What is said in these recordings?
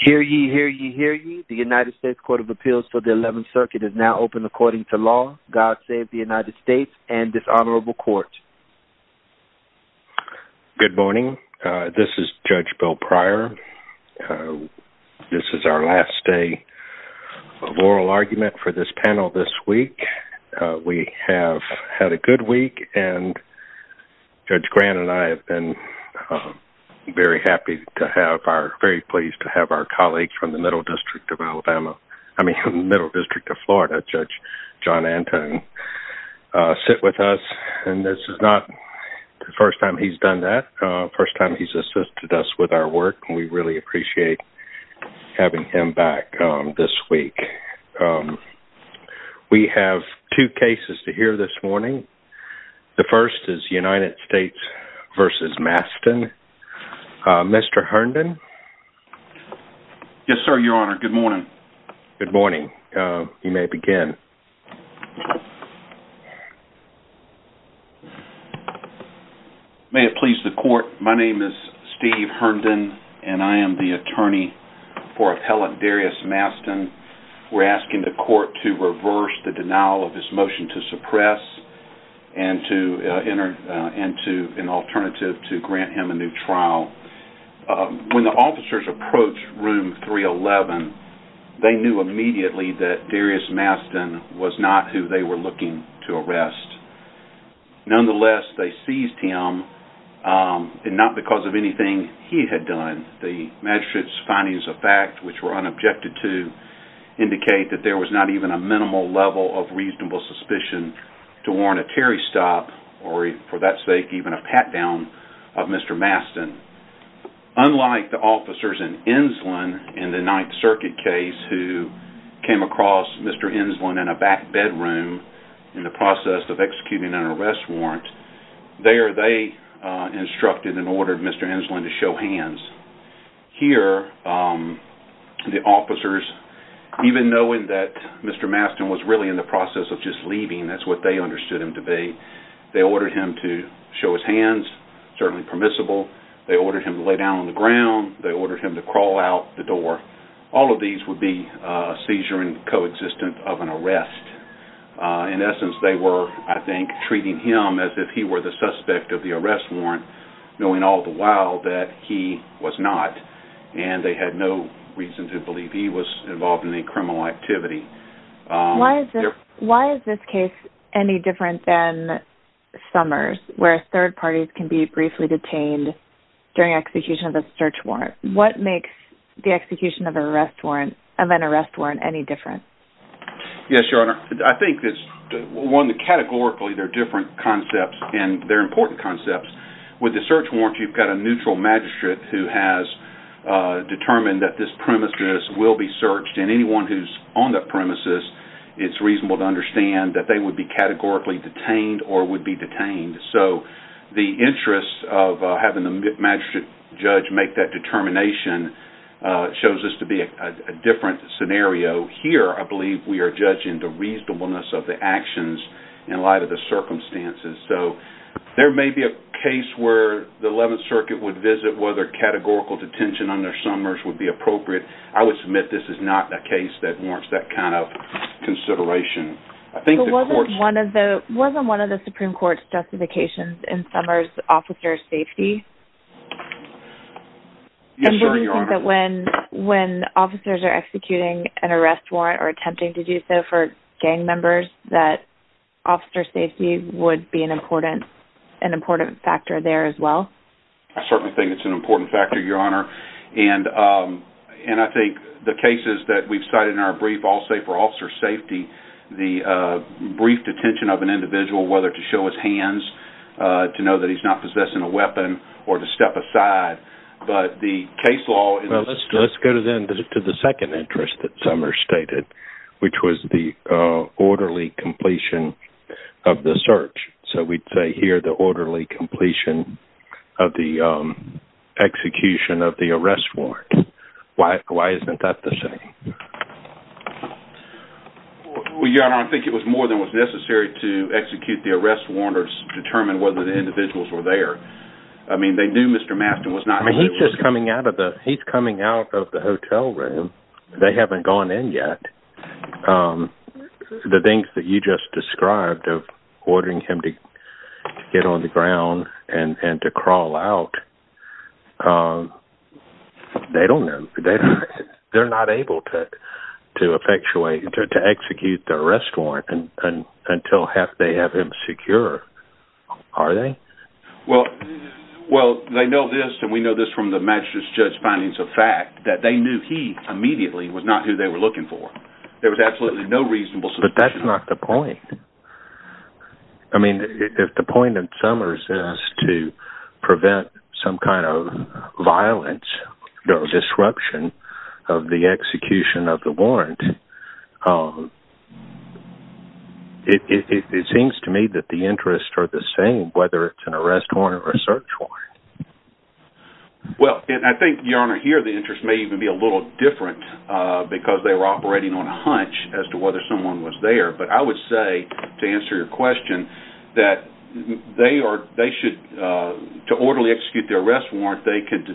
Hear ye, hear ye, hear ye. The United States Court of Appeals for the 11th Circuit is now open according to law. God save the United States and this honorable court. Good morning. This is Judge Bill Pryor. This is our last day of oral argument for this panel this week. We have had a good week and Judge Grant and I have been very happy to have our, very pleased to have our colleagues from the Middle District of Alabama, I mean Middle District of Florida, Judge John Anton, sit with us and this is not the first time he's done that. First time he's assisted us with our work and we really appreciate having him back this week. We have two cases to hear this morning. The first is United States v. Mastin. Mr. Herndon, Yes, sir, your honor. Good morning. Good morning. You may begin. May it please the court, my name is Steve Herndon and I am the attorney for Appellant Darrius Mastin. We're asking the court to reverse the denial of this motion to suppress and to enter into an alternative to grant him a new trial. When the officers approached room 311, they knew immediately that Darrius Mastin was not who they were looking to arrest. Nonetheless, they seized him and not because of anything he had done. The magistrate's findings of fact, which were unobjected to, indicate that there was not even a minimal level of reasonable suspicion to warrant a Terry stop or for that sake even a pat down of Mr. Mastin. Unlike the officers in Enslin in the 9th Circuit case who came across Mr. Enslin in a back bedroom in the process of executing an arrest warrant, there they instructed and ordered Mr. Enslin to show hands. Here, the officers, even knowing that Mr. Mastin was really in the process of just leaving, that's what they understood him to be, they ordered him to show his hands, certainly permissible. They ordered him to lay down on the ground. They ordered him to crawl out the door. All of these would be seizure and coexistence of an arrest. In essence, they were, I think, treating him as if he were the suspect of the arrest warrant, knowing all the while that he was not. They had no reason to believe he was involved in any criminal activity. Why is this case any different than Summers, where third parties can be briefly detained during execution of a search warrant? What makes the execution of an arrest warrant any different? Yes, Your Honor. I think it's one that categorically they're different concepts and they're important concepts. With the search warrant, you've got a neutral magistrate who has determined that this premises will be searched and anyone who's on that premises, it's reasonable to understand that they would be categorically detained or would be detained. The interest of having the magistrate judge make that determination shows us to be a different scenario. Here, I believe we are judging the reasonableness of the actions in light of the circumstances. There may be a case where the 11th Circuit would visit whether categorical detention under Summers would be appropriate. I would submit this is not a case that warrants that kind of consideration. Wasn't one of the Supreme Court's justifications in Summers, officer safety? Yes, Your Honor. Do you think that when officers are executing an arrest warrant or attempting to do so for would be an important factor there as well? I certainly think it's an important factor, Your Honor. I think the cases that we've cited in our brief all say for officer safety, the brief detention of an individual, whether to show his hands, to know that he's not possessing a weapon or to step aside, but the case law- Let's go to the second interest that Summers stated, which was the orderly completion of the search. So we'd say here the orderly completion of the execution of the arrest warrant. Why isn't that the same? Well, Your Honor, I think it was more than was necessary to execute the arrest warrant or determine whether the individuals were there. I mean, they knew Mr. Mastin was not- I mean, he's just coming out of the hotel room. They haven't gone in yet. The things that you just described of ordering him to get on the ground and to crawl out, they don't know. They're not able to effectuate, to execute the arrest warrant until they have him secure. Are they? Well, they know this and we know this from the magistrate's judge findings of fact that they knew he immediately was not who they were looking for. There was absolutely no reasonable- But that's not the point. I mean, if the point of Summers is to prevent some kind of violence or disruption of the execution of the warrant, it seems to me that the interests are the same, whether it's an arrest warrant or a search warrant. Well, and I think, Your Honor, here the interests may even be a little different because they were operating on a hunch as to whether someone was there. But I would say, to answer your question, that they should, to orderly execute the arrest warrant, they could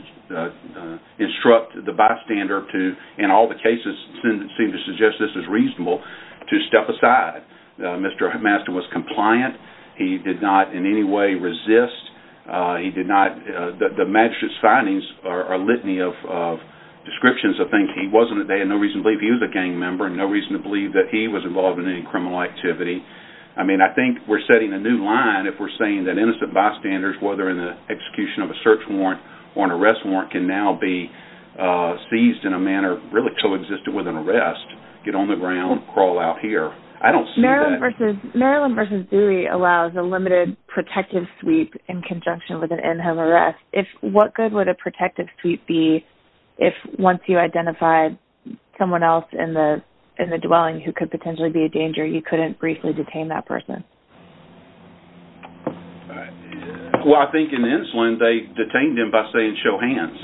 instruct the bystander to, in all the cases that seem to suggest this is reasonable, to step aside. Mr. Mastin was compliant. He did not in any way resist. The magistrate's findings are a litany of descriptions of things. They had no reason to believe he was a gang member and no reason to believe that he was involved in any criminal activity. I mean, I think we're setting a new line if we're saying that innocent bystanders, whether in the execution of a search warrant or an arrest warrant, can now be seized in a manner really co-existent with an arrest, get on the ground, crawl out here. I don't see that. Maryland v. Dewey allows a limited protective sweep in conjunction with an in-home arrest. What good would a protective sweep be if, once you identified someone else in the dwelling who could potentially be a danger, you couldn't briefly detain that person? Well, I think in Insulin, they detained him by saying, show hands.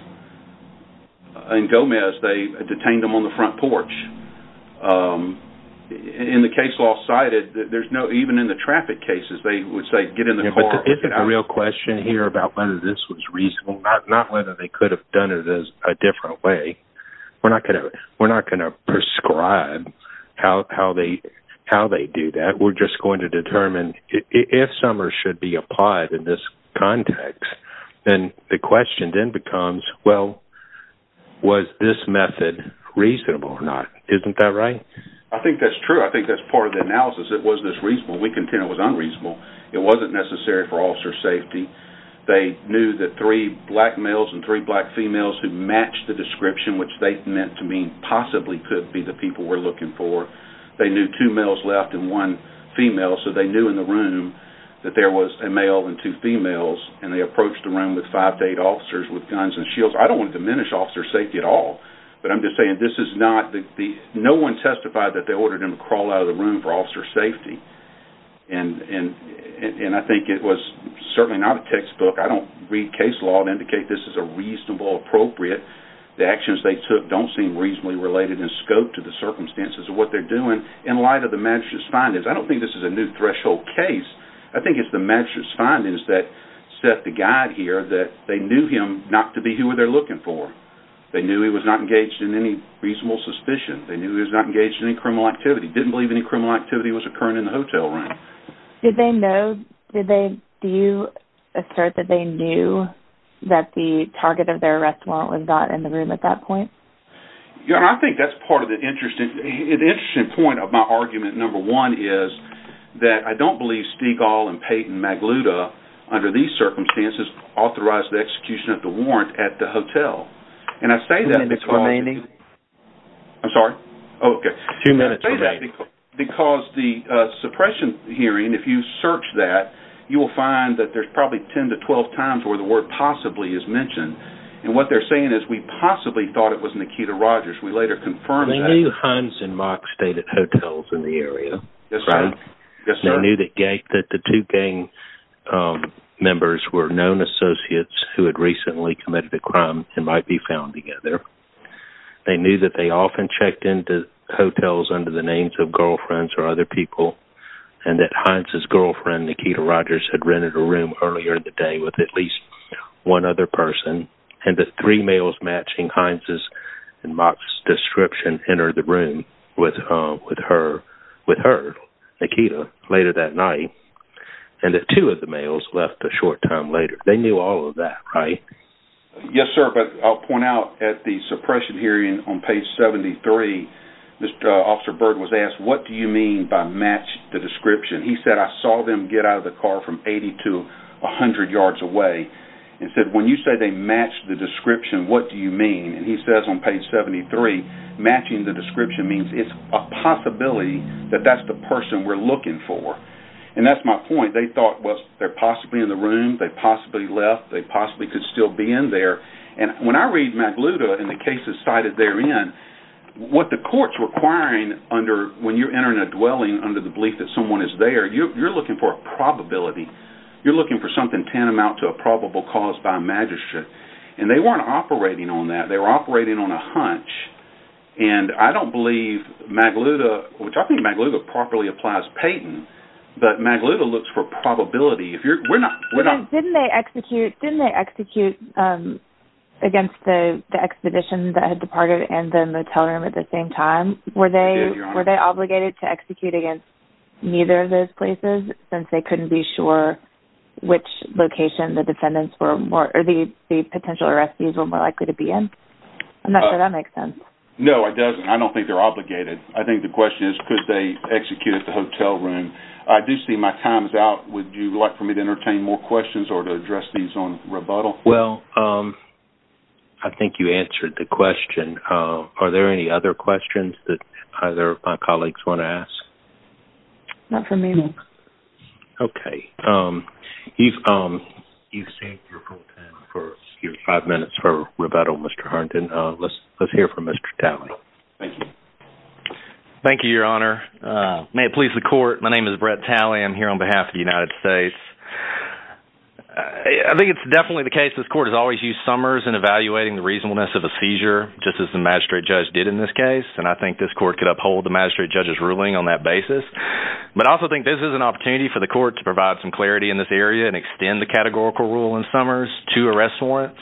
In Gomez, they detained him on the front porch. In the case law cited, even in the traffic cases, they would say, get in the car. But is it a real question here about whether this was reasonable, not whether they could have done it a different way? We're not going to prescribe how they do that. We're just going to say, well, was this method reasonable or not? Isn't that right? I think that's true. I think that's part of the analysis. It was just reasonable. We contend it was unreasonable. It wasn't necessary for officer safety. They knew that three black males and three black females who matched the description, which they meant to mean possibly could be the people we're looking for. They knew two males left and one female. So they knew in the room that there was a male and two females. And they approached the room with five to eight officers with guns and shields. I don't want to diminish officer safety at all. But I'm just saying, no one testified that they ordered him to crawl out of the room for officer safety. And I think it was certainly not a textbook. I don't read case law and indicate this is a reasonable, appropriate. The actions they took don't seem reasonably related in scope to the circumstances of what they're doing. In light of the magistrate's findings, I don't think this is a new threshold case. I think it's the magistrate's findings that set the guide here that they knew him not to be who they're looking for. They knew he was not engaged in any reasonable suspicion. They knew he was not engaged in any criminal activity, didn't believe any criminal activity was occurring in the hotel room. Did they know, did they, do you assert that they knew that the target of their arrest warrant was not in the room at that point? Yeah, I think that's part of the interesting, an interesting point of my argument, number one, is that I don't believe Stegall and Peyton Magluta, under these circumstances, authorized the execution of the warrant at the hotel. And I say that because... Two minutes remaining. I'm sorry? Okay. Two minutes remaining. Because the suppression hearing, if you search that, you will find that there's probably 10 to 12 times where the word possibly is mentioned. And what they're saying is, we possibly thought it was Nikita Rogers. We later confirmed that. They knew Hines and Mark stayed at hotels in the area. Yes, sir. They knew that the two gang members were known associates who had recently committed a crime and might be found together. They knew that they often checked into hotels under the names of girlfriends or other people, and that Hines' girlfriend, Nikita Rogers, had rented a room earlier in the day with at least one other person. And the three males matching Hines' and Mark's description entered the room with her, Nikita, later that night. And the two of the males left a short time later. They knew all of that, right? Yes, sir. But I'll point out at the suppression hearing on page 73, Mr. Officer Byrd was asked, what do you mean by match the description? He said, I saw them get out of the car from 80 to 100 yards away. He said, when you say they the description, what do you mean? And he says on page 73, matching the description means it's a possibility that that's the person we're looking for. And that's my point. They thought, well, they're possibly in the room. They possibly left. They possibly could still be in there. And when I read Magluta and the cases cited therein, what the court's requiring when you're entering a dwelling under the belief that someone is there, you're looking for a probability. You're looking for something tantamount to a probable cause by magistrate. And they weren't operating on that. They were operating on a hunch. And I don't believe Magluta, which I think Magluta properly applies Payton, but Magluta looks for probability. Didn't they execute against the expedition that had departed and then the teller at the same time? Were they obligated to execute against neither of those places since they couldn't be sure which location the defendants were more or the potential arrestees were more likely to be in? I'm not sure that makes sense. No, it doesn't. I don't think they're obligated. I think the question is, could they execute at the hotel room? I do see my time is out. Would you like for me to entertain more questions or to address these on rebuttal? Well, I think you answered the question. Are there any other questions that either of my colleagues want to ask? Not for me. Okay. You've saved your full time for your five minutes for rebuttal, Mr. Harrington. Let's hear from Mr. Talley. Thank you. Thank you, Your Honor. May it please the court. My name is Brett Talley. I'm here on behalf of the United States. I think it's definitely the case this court has always used Summers in evaluating the reasonableness of a seizure just as the magistrate judge did in this case. And I think this court could uphold the magistrate judge's ruling on that basis. But I also think this is an opportunity for the court to provide some clarity in this area and extend the categorical rule in Summers to arrest warrants.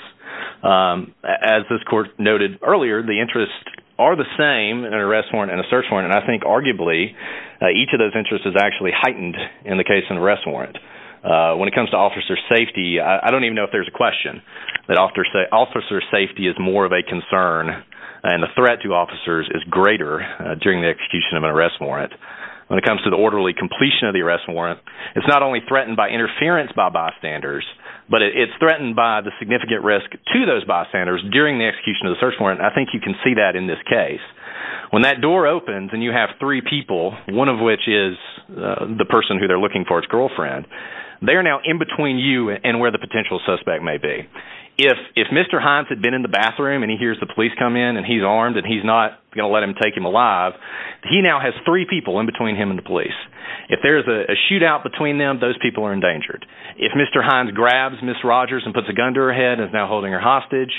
As this court noted earlier, the interests are the same in an arrest warrant and a search warrant. And I think arguably, each of those interests is actually heightened in the case of an arrest warrant. When it comes to officer safety, I don't even know if there's a question, that officer safety is more of a concern and the threat to officers is greater during the orderly completion of the arrest warrant. It's not only threatened by interference by bystanders, but it's threatened by the significant risk to those bystanders during the execution of the search warrant. I think you can see that in this case. When that door opens and you have three people, one of which is the person who they're looking for, his girlfriend, they are now in between you and where the potential suspect may be. If Mr. Hines had been in the bathroom and he hears the police come in and he's armed and he's not going to let them take him alive, he now has three people in between him and the police. If there's a shootout between them, those people are endangered. If Mr. Hines grabs Ms. Rogers and puts a gun to her head and is now holding her hostage,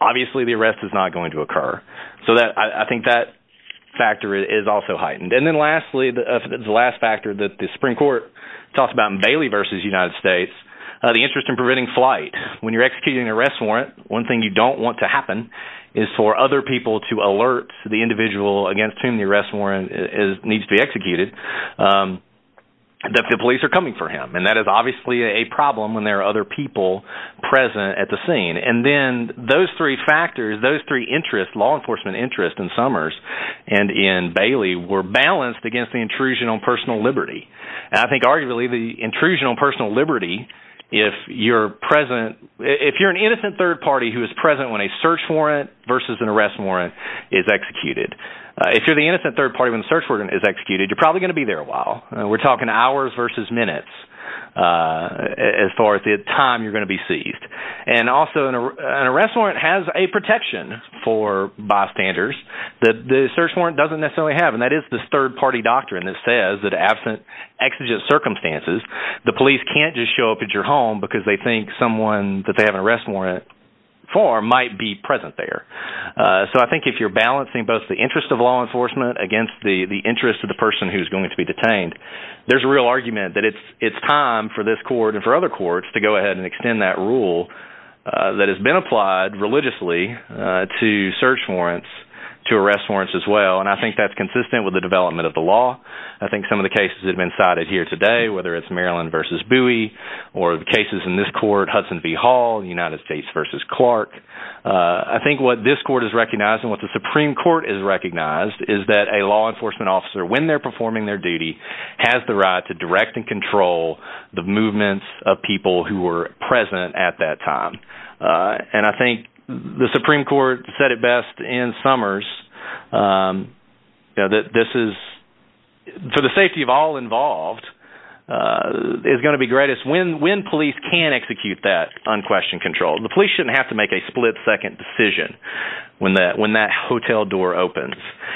obviously the arrest is not going to occur. So I think that factor is also heightened. And then lastly, the last factor that the Supreme Court talks about in Bailey versus United States, the interest in preventing flight. When you're executing an arrest warrant, one thing you don't want to happen is for other people to alert the individual against whom the arrest warrant needs to be executed that the police are coming for him. And that is obviously a problem when there are other people present at the scene. And then those three factors, those three interests, law enforcement interest in Summers and in Bailey were balanced against the intrusion on personal liberty. And I think arguably the intrusion on personal liberty, if you're an innocent third party who is present when a search warrant versus an arrest warrant is executed. If you're the innocent third party when the search warrant is executed, you're probably going to be there a while. We're talking hours versus minutes as far as the time you're going to be seized. And also an arrest warrant has a protection for bystanders that the search warrant doesn't necessarily have. And that is this third party doctrine that says that absent exigent circumstances, the police can't just show up at your home because they think someone that they have an arrest warrant for might be present there. So I think if you're balancing both the interest of law enforcement against the interest of the person who's going to be detained, there's a real argument that it's time for this court and for other courts to go ahead and extend that rule that has been applied religiously to search warrants to arrest warrants as well. And I think that's consistent with the Maryland versus Bowie or the cases in this court, Hudson v. Hall, United States versus Clark. I think what this court is recognizing, what the Supreme Court is recognized is that a law enforcement officer, when they're performing their duty, has the right to direct and control the movements of people who were present at that time. And I think the Supreme Court said it best in Summers that this is, for the safety of all involved, is going to be greatest when police can execute that unquestioned control. The police shouldn't have to make a split-second decision when that hotel door opens.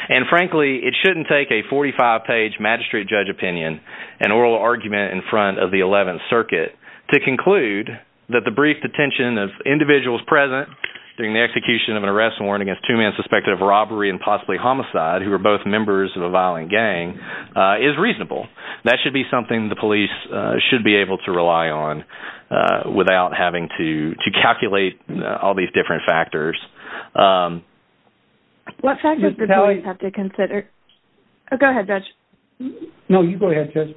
And frankly, it shouldn't take a 45-page magistrate judge opinion, an oral argument in front of the 11th Circuit, to conclude that the brief detention of individuals present during the execution of an arrest warrant against two men suspected of robbery and possibly homicide who were both members of a violent gang is reasonable. That should be something the police should be able to rely on without having to calculate all these different factors. What factors do police have to consider? Go ahead, Judge. No, you go ahead, Judge.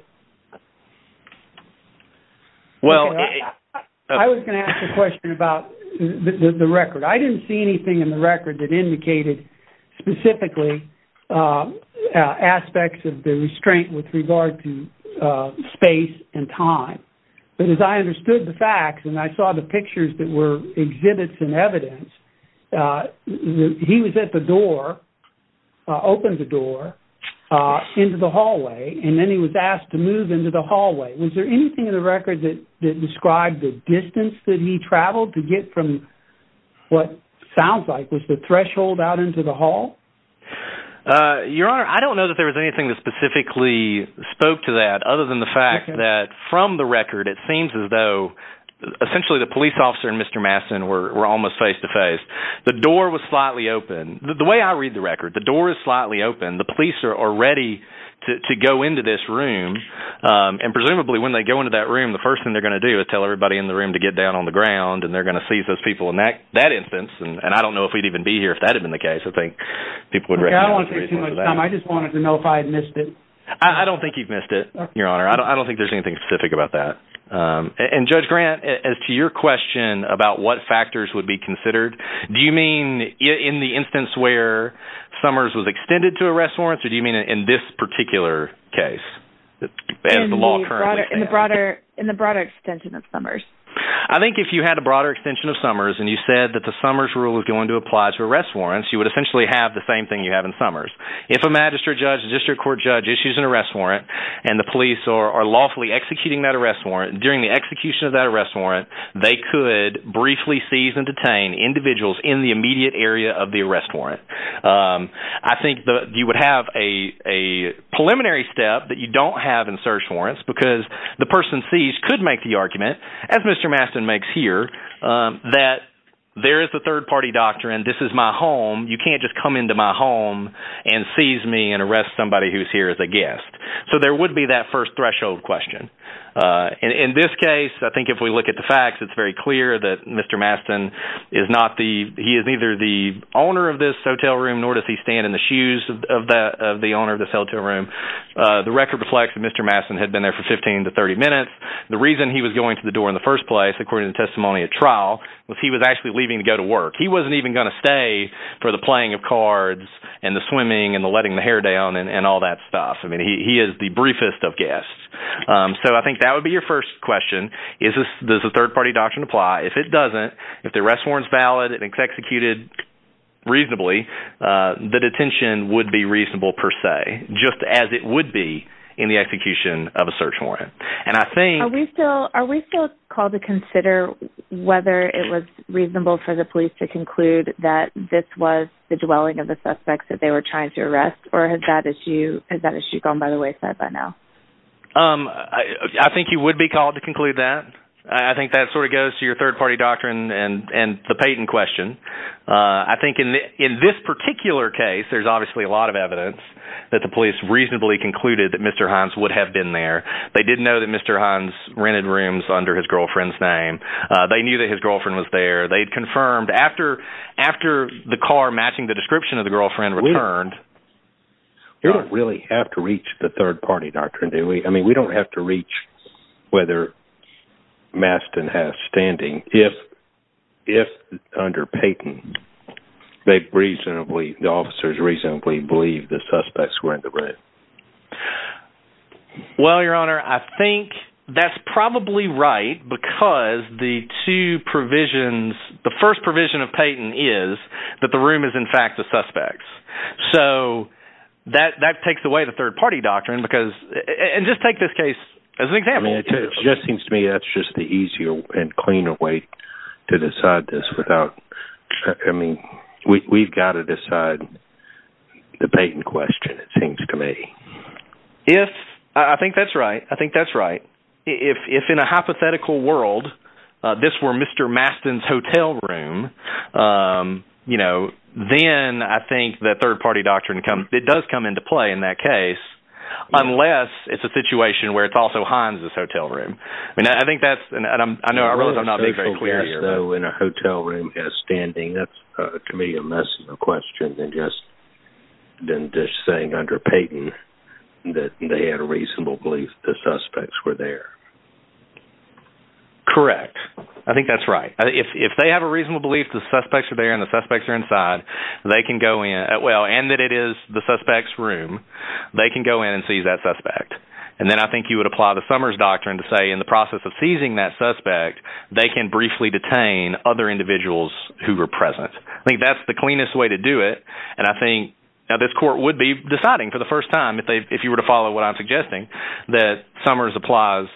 Well, I was going to ask a question about the record. I didn't see anything in the record that indicated specifically aspects of the restraint with regard to space and time. But as I understood the facts, and I saw the pictures that were exhibits and evidence, he was at the door, opened the door into the hallway, and then he was asked to move into the hallway. Was there anything in the record that described the distance that he traveled to get from what sounds like was the threshold out into the hall? Your Honor, I don't know that there was anything that specifically spoke to that, other than the fact that from the record, it seems as though essentially the police officer and Mr. Mastin were almost face-to-face. The door was slightly open. The way I read the record, the door is slightly open. The police are ready to go into this room, and presumably when they go into that room, the first thing they're going to do is tell everybody in the room to get down on the ground, and they're going to seize those people in that instance. And I don't know if we'd even be here if that had been the case. I think people would recognize that. I don't want to take too much time. I just wanted to know if I had missed it. I don't think you've missed it, Your Honor. I don't think there's anything specific about that. And Judge Grant, as to your question about what factors would be considered, do you mean in the instance where Summers was extended to arrest warrants, or do you mean in this particular case, as the law currently stands? In the broader extension of Summers. I think if you had a broader extension of Summers, and you said that the Summers rule was going to apply to arrest warrants, you would essentially have the same thing you have in Summers. If a magistrate judge, a district court judge issues an arrest warrant, and the police are lawfully executing that arrest warrant, during the execution of that arrest warrant, they could briefly seize and detain individuals in the immediate area of the arrest warrant. I think you would have a preliminary step that you don't have in search warrants, because the person seized could make the argument, as Mr. Mastin makes here, that there is the third party doctrine, this is my home, you can't just come into my home and seize me and arrest somebody who's here as a guest. So there would be that first threshold question. In this case, I think we look at the facts, it's very clear that Mr. Mastin is neither the owner of this hotel room, nor does he stand in the shoes of the owner of this hotel room. The record reflects that Mr. Mastin had been there for 15 to 30 minutes. The reason he was going to the door in the first place, according to the testimony at trial, was he was actually leaving to go to work. He wasn't even going to stay for the playing of cards, and the swimming, and the letting the hair down, and all that stuff. I mean, he is the briefest of guests. So I think that would be your first question. Does the third party doctrine apply? If it doesn't, if the arrest warrant is valid, and it's executed reasonably, the detention would be reasonable per se, just as it would be in the execution of a search warrant. And I think... Are we still called to consider whether it was reasonable for the police to conclude that this was the dwelling of the suspects that they were trying to arrest? Or has that issue gone by the wayside by now? I think you would be called to conclude that. I think that sort of goes to your third party doctrine and the Peyton question. I think in this particular case, there's obviously a lot of evidence that the police reasonably concluded that Mr. Hines would have been there. They did know that Mr. Hines rented rooms under his girlfriend's name. They knew that his girlfriend was there. They'd confirmed after the car matching the description of the girlfriend returned... We don't really have to reach the third party doctrine, do we? I mean, we don't have to reach whether Mastin has standing if under Peyton, the officers reasonably believe the suspects were in the room. Well, Your Honor, I think that's probably right because the two provisions... The first provision of Peyton is that the room is in fact the suspects. So that takes away the third party doctrine because... And just take this case as an example. I mean, it just seems to me that's just the easier and cleaner way to decide this without... I mean, we've got to decide the Peyton question, it seems to me. Yes, I think that's right. I think that's right. If in a hypothetical world, this were Mr. Mastin's hotel room, then I think that third party doctrine comes... It does come into play in that case, unless it's a situation where it's also Hines' hotel room. I mean, I think that's... And I know I realize I'm not being very clear here. So in a hotel room as standing, that's a commedia mess of a question than just saying under Peyton that they had a reasonable belief the suspects were there. Correct. I think that's right. If they have a reasonable belief the suspects are there and the suspects are inside, they can go in... Well, and that it is the suspect's room, they can go in and seize that suspect. And then I think you would apply the Summers doctrine to say in the process of seizing that suspect, they can briefly detain other individuals who were present. I think that's the cleanest way to do it. And I think... Now, this court would be deciding for the first time if you were to follow what I'm suggesting, that Summers applies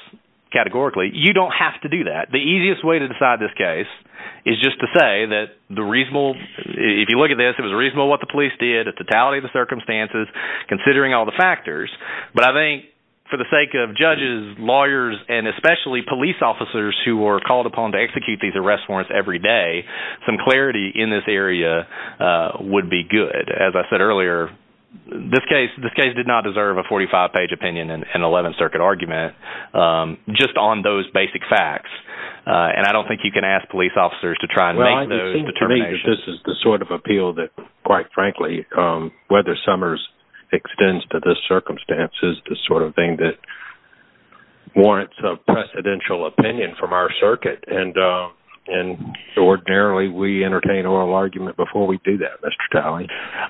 categorically. You don't have to do that. The easiest way to decide this case is just to say that the reasonable... If you look at this, it was reasonable what the police did at totality of the circumstances, considering all the factors. But I think for the sake of judges, lawyers, and especially police officers who were called upon to execute these arrest warrants every day, some clarity in this area would be good. As I said earlier, this case did not deserve a 45-page opinion and an 11th Circuit argument just on those basic facts. And I don't think you can ask police officers to try and make those determinations. Well, I think to me, this is the sort of appeal that, quite frankly, whether Summers extends to this circumstance is the sort of thing that warrants a presidential opinion from our circuit. And ordinarily, we entertain oral argument before we do that, Mr. Talley.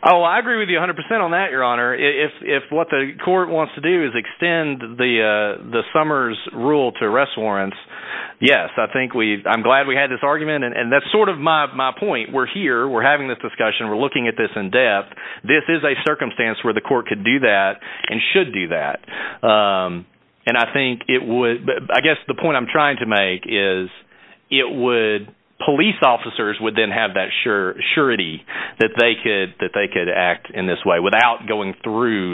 Oh, I agree with you 100% on that, Your Honor. If what the court wants to do is extend the Summers' rule to arrest warrants, yes. I'm glad we had this argument. And that's sort of my point. We're here. We're having this discussion. We're looking at this in depth. This is a circumstance where the court could do that and should do that. And I guess the point I'm trying to make is police officers would then have that surety that they could act in this way without going through,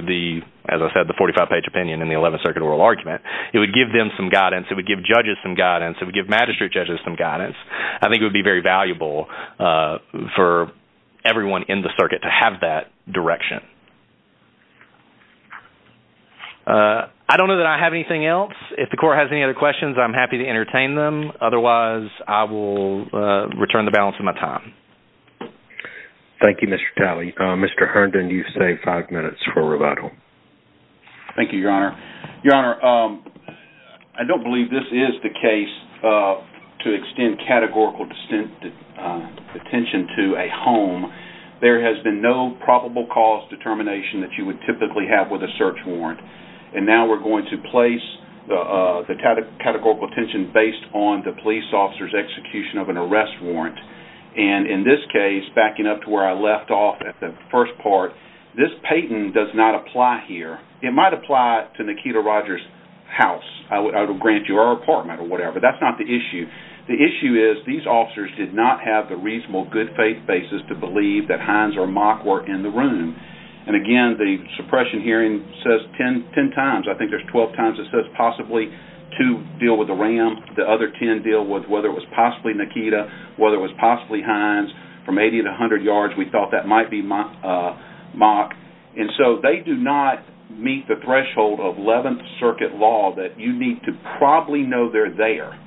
as I said, the 45-page opinion and the 11th Circuit oral argument. It would give them some guidance. It would give judges some guidance. It would give magistrate judges some guidance. I think it would be very valuable for everyone in the circuit to have that direction. I don't know that I have anything else. If the court has any other questions, I'm happy to entertain them. Otherwise, I will return the balance of my time. Thank you, Mr. Talley. Mr. Herndon, you've saved five minutes for rebuttal. Thank you, Your Honor. Your Honor, I don't believe this is the case to extend categorical attention to a home. There has been no probable cause determination that you would typically have with a search warrant. And now we're going to place the categorical attention based on the police officer's execution of an arrest warrant. And in this case, backing up to where I left off at the first part, this patent does not apply here. It might apply to Nikita Rogers' house. I would grant you her apartment or whatever. That's not the issue. The issue is these officers did not have the reasonable good faith basis to believe that Hines or Mock were in the room. And again, the suppression hearing says 10 times, I think there's 12 times it says possibly to deal with the RAM. The other 10 deal with whether it was possibly Nikita, whether it was possibly Hines. From 80 to 100 yards, we thought that might be Mock. And so they do not meet the threshold of 11th Circuit law that you need to probably know they're there.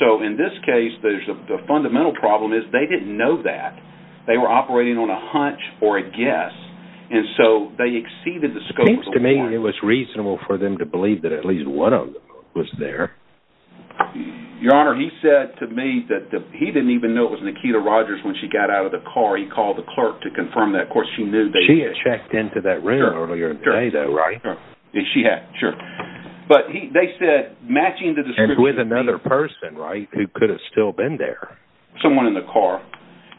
So in this case, the fundamental problem is they didn't know that. They were operating on a hunch or a guess. And so they exceeded the scope of the warrant. It seems to me it was reasonable for them to believe that at least one of them was there. Your Honor, he said to me that he didn't even know it was Nikita Rogers when she got out of the car. He called the clerk to confirm that. Of course, she knew that. She had checked into that room earlier, right? She had, sure. But they said matching the description with another person, right, who could have still been there. Someone in the car.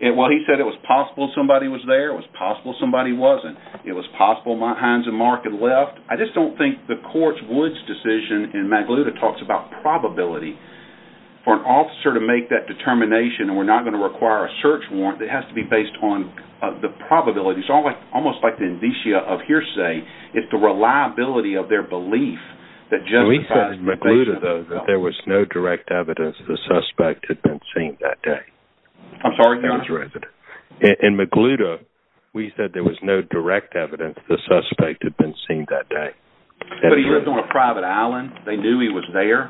Well, he said it was possible somebody was there. It was possible somebody wasn't. It was possible Hines and Mark had left. I just don't think the court's Woods decision in Magluta talks about probability. For an officer to make that determination, and we're not going to require a search warrant, it has to be based on the probability. It's almost like the indicia of hearsay. It's the reliability of their belief. We said in Magluta, though, that there was no direct evidence the suspect had been seen that day. I'm sorry, Your Honor. In Magluta, we said there was no direct evidence the suspect had been seen that day. But he lived on a private island. They knew he was there.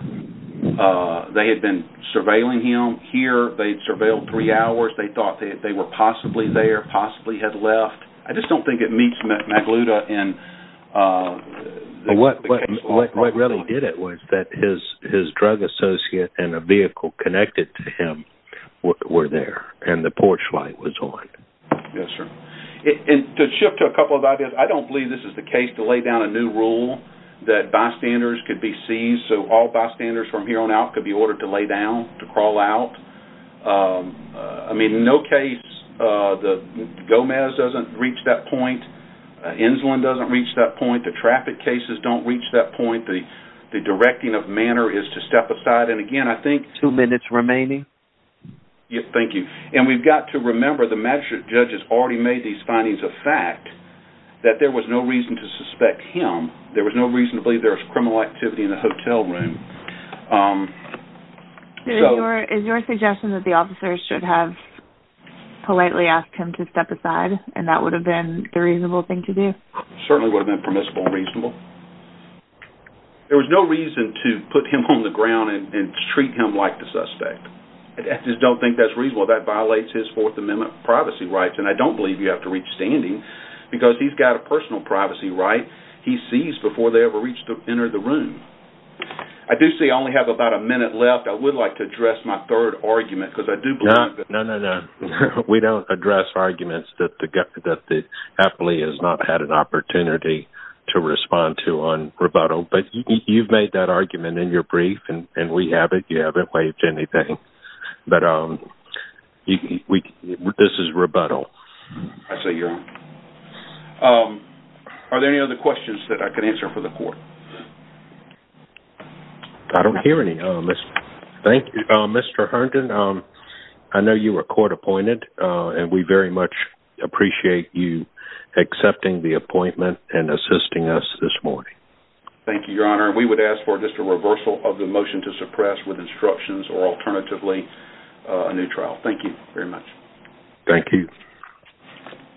They had been surveilling him here. They'd surveilled three hours. They thought they were possibly there, possibly had left. I just don't think it meets Magluta in... What really did it was that his drug associate and a vehicle connected to him were there, and the porch light was on. Yes, sir. And to shift to a couple of ideas, I don't believe this is the case to lay down a new rule that bystanders could be seized, so all bystanders from here on out could be ordered to lay down, to crawl out. I mean, in no case, Gomez doesn't reach that point. Enzlin doesn't reach that point. The traffic cases don't reach that point. The directing of manner is to step aside. And again, I think... Two minutes remaining. Yes, thank you. And we've got to remember the magistrate judge has already made these findings a fact, that there was no reason to suspect him. There was no reason to believe there was criminal activity in the hotel room. Is your suggestion that the officers should have politely asked him to step aside, and that would have been the reasonable thing to do? Certainly would have been permissible and reasonable. There was no reason to put him on the ground and treat him like the suspect. I just don't think that's reasonable. That violates his Fourth Amendment privacy rights. And I don't believe you have to reach standing, because he's got a personal privacy right. He's seized before they ever entered the room. I do see I only have about a minute left. I would like to address my third argument, because I do believe that... No, no, no. We don't address arguments that the affilee has not had an opportunity to respond to on rebuttal. But you've made that belief, and we have it. You haven't waived anything. But this is rebuttal. I see. Are there any other questions that I can answer for the court? I don't hear any. Mr. Herndon, I know you were court appointed, and we very much appreciate you accepting the appointment and assisting us this morning. Thank you, Your Honor. We would ask for just a reversal of the motion to suppress with instructions or alternatively a new trial. Thank you very much. Thank you.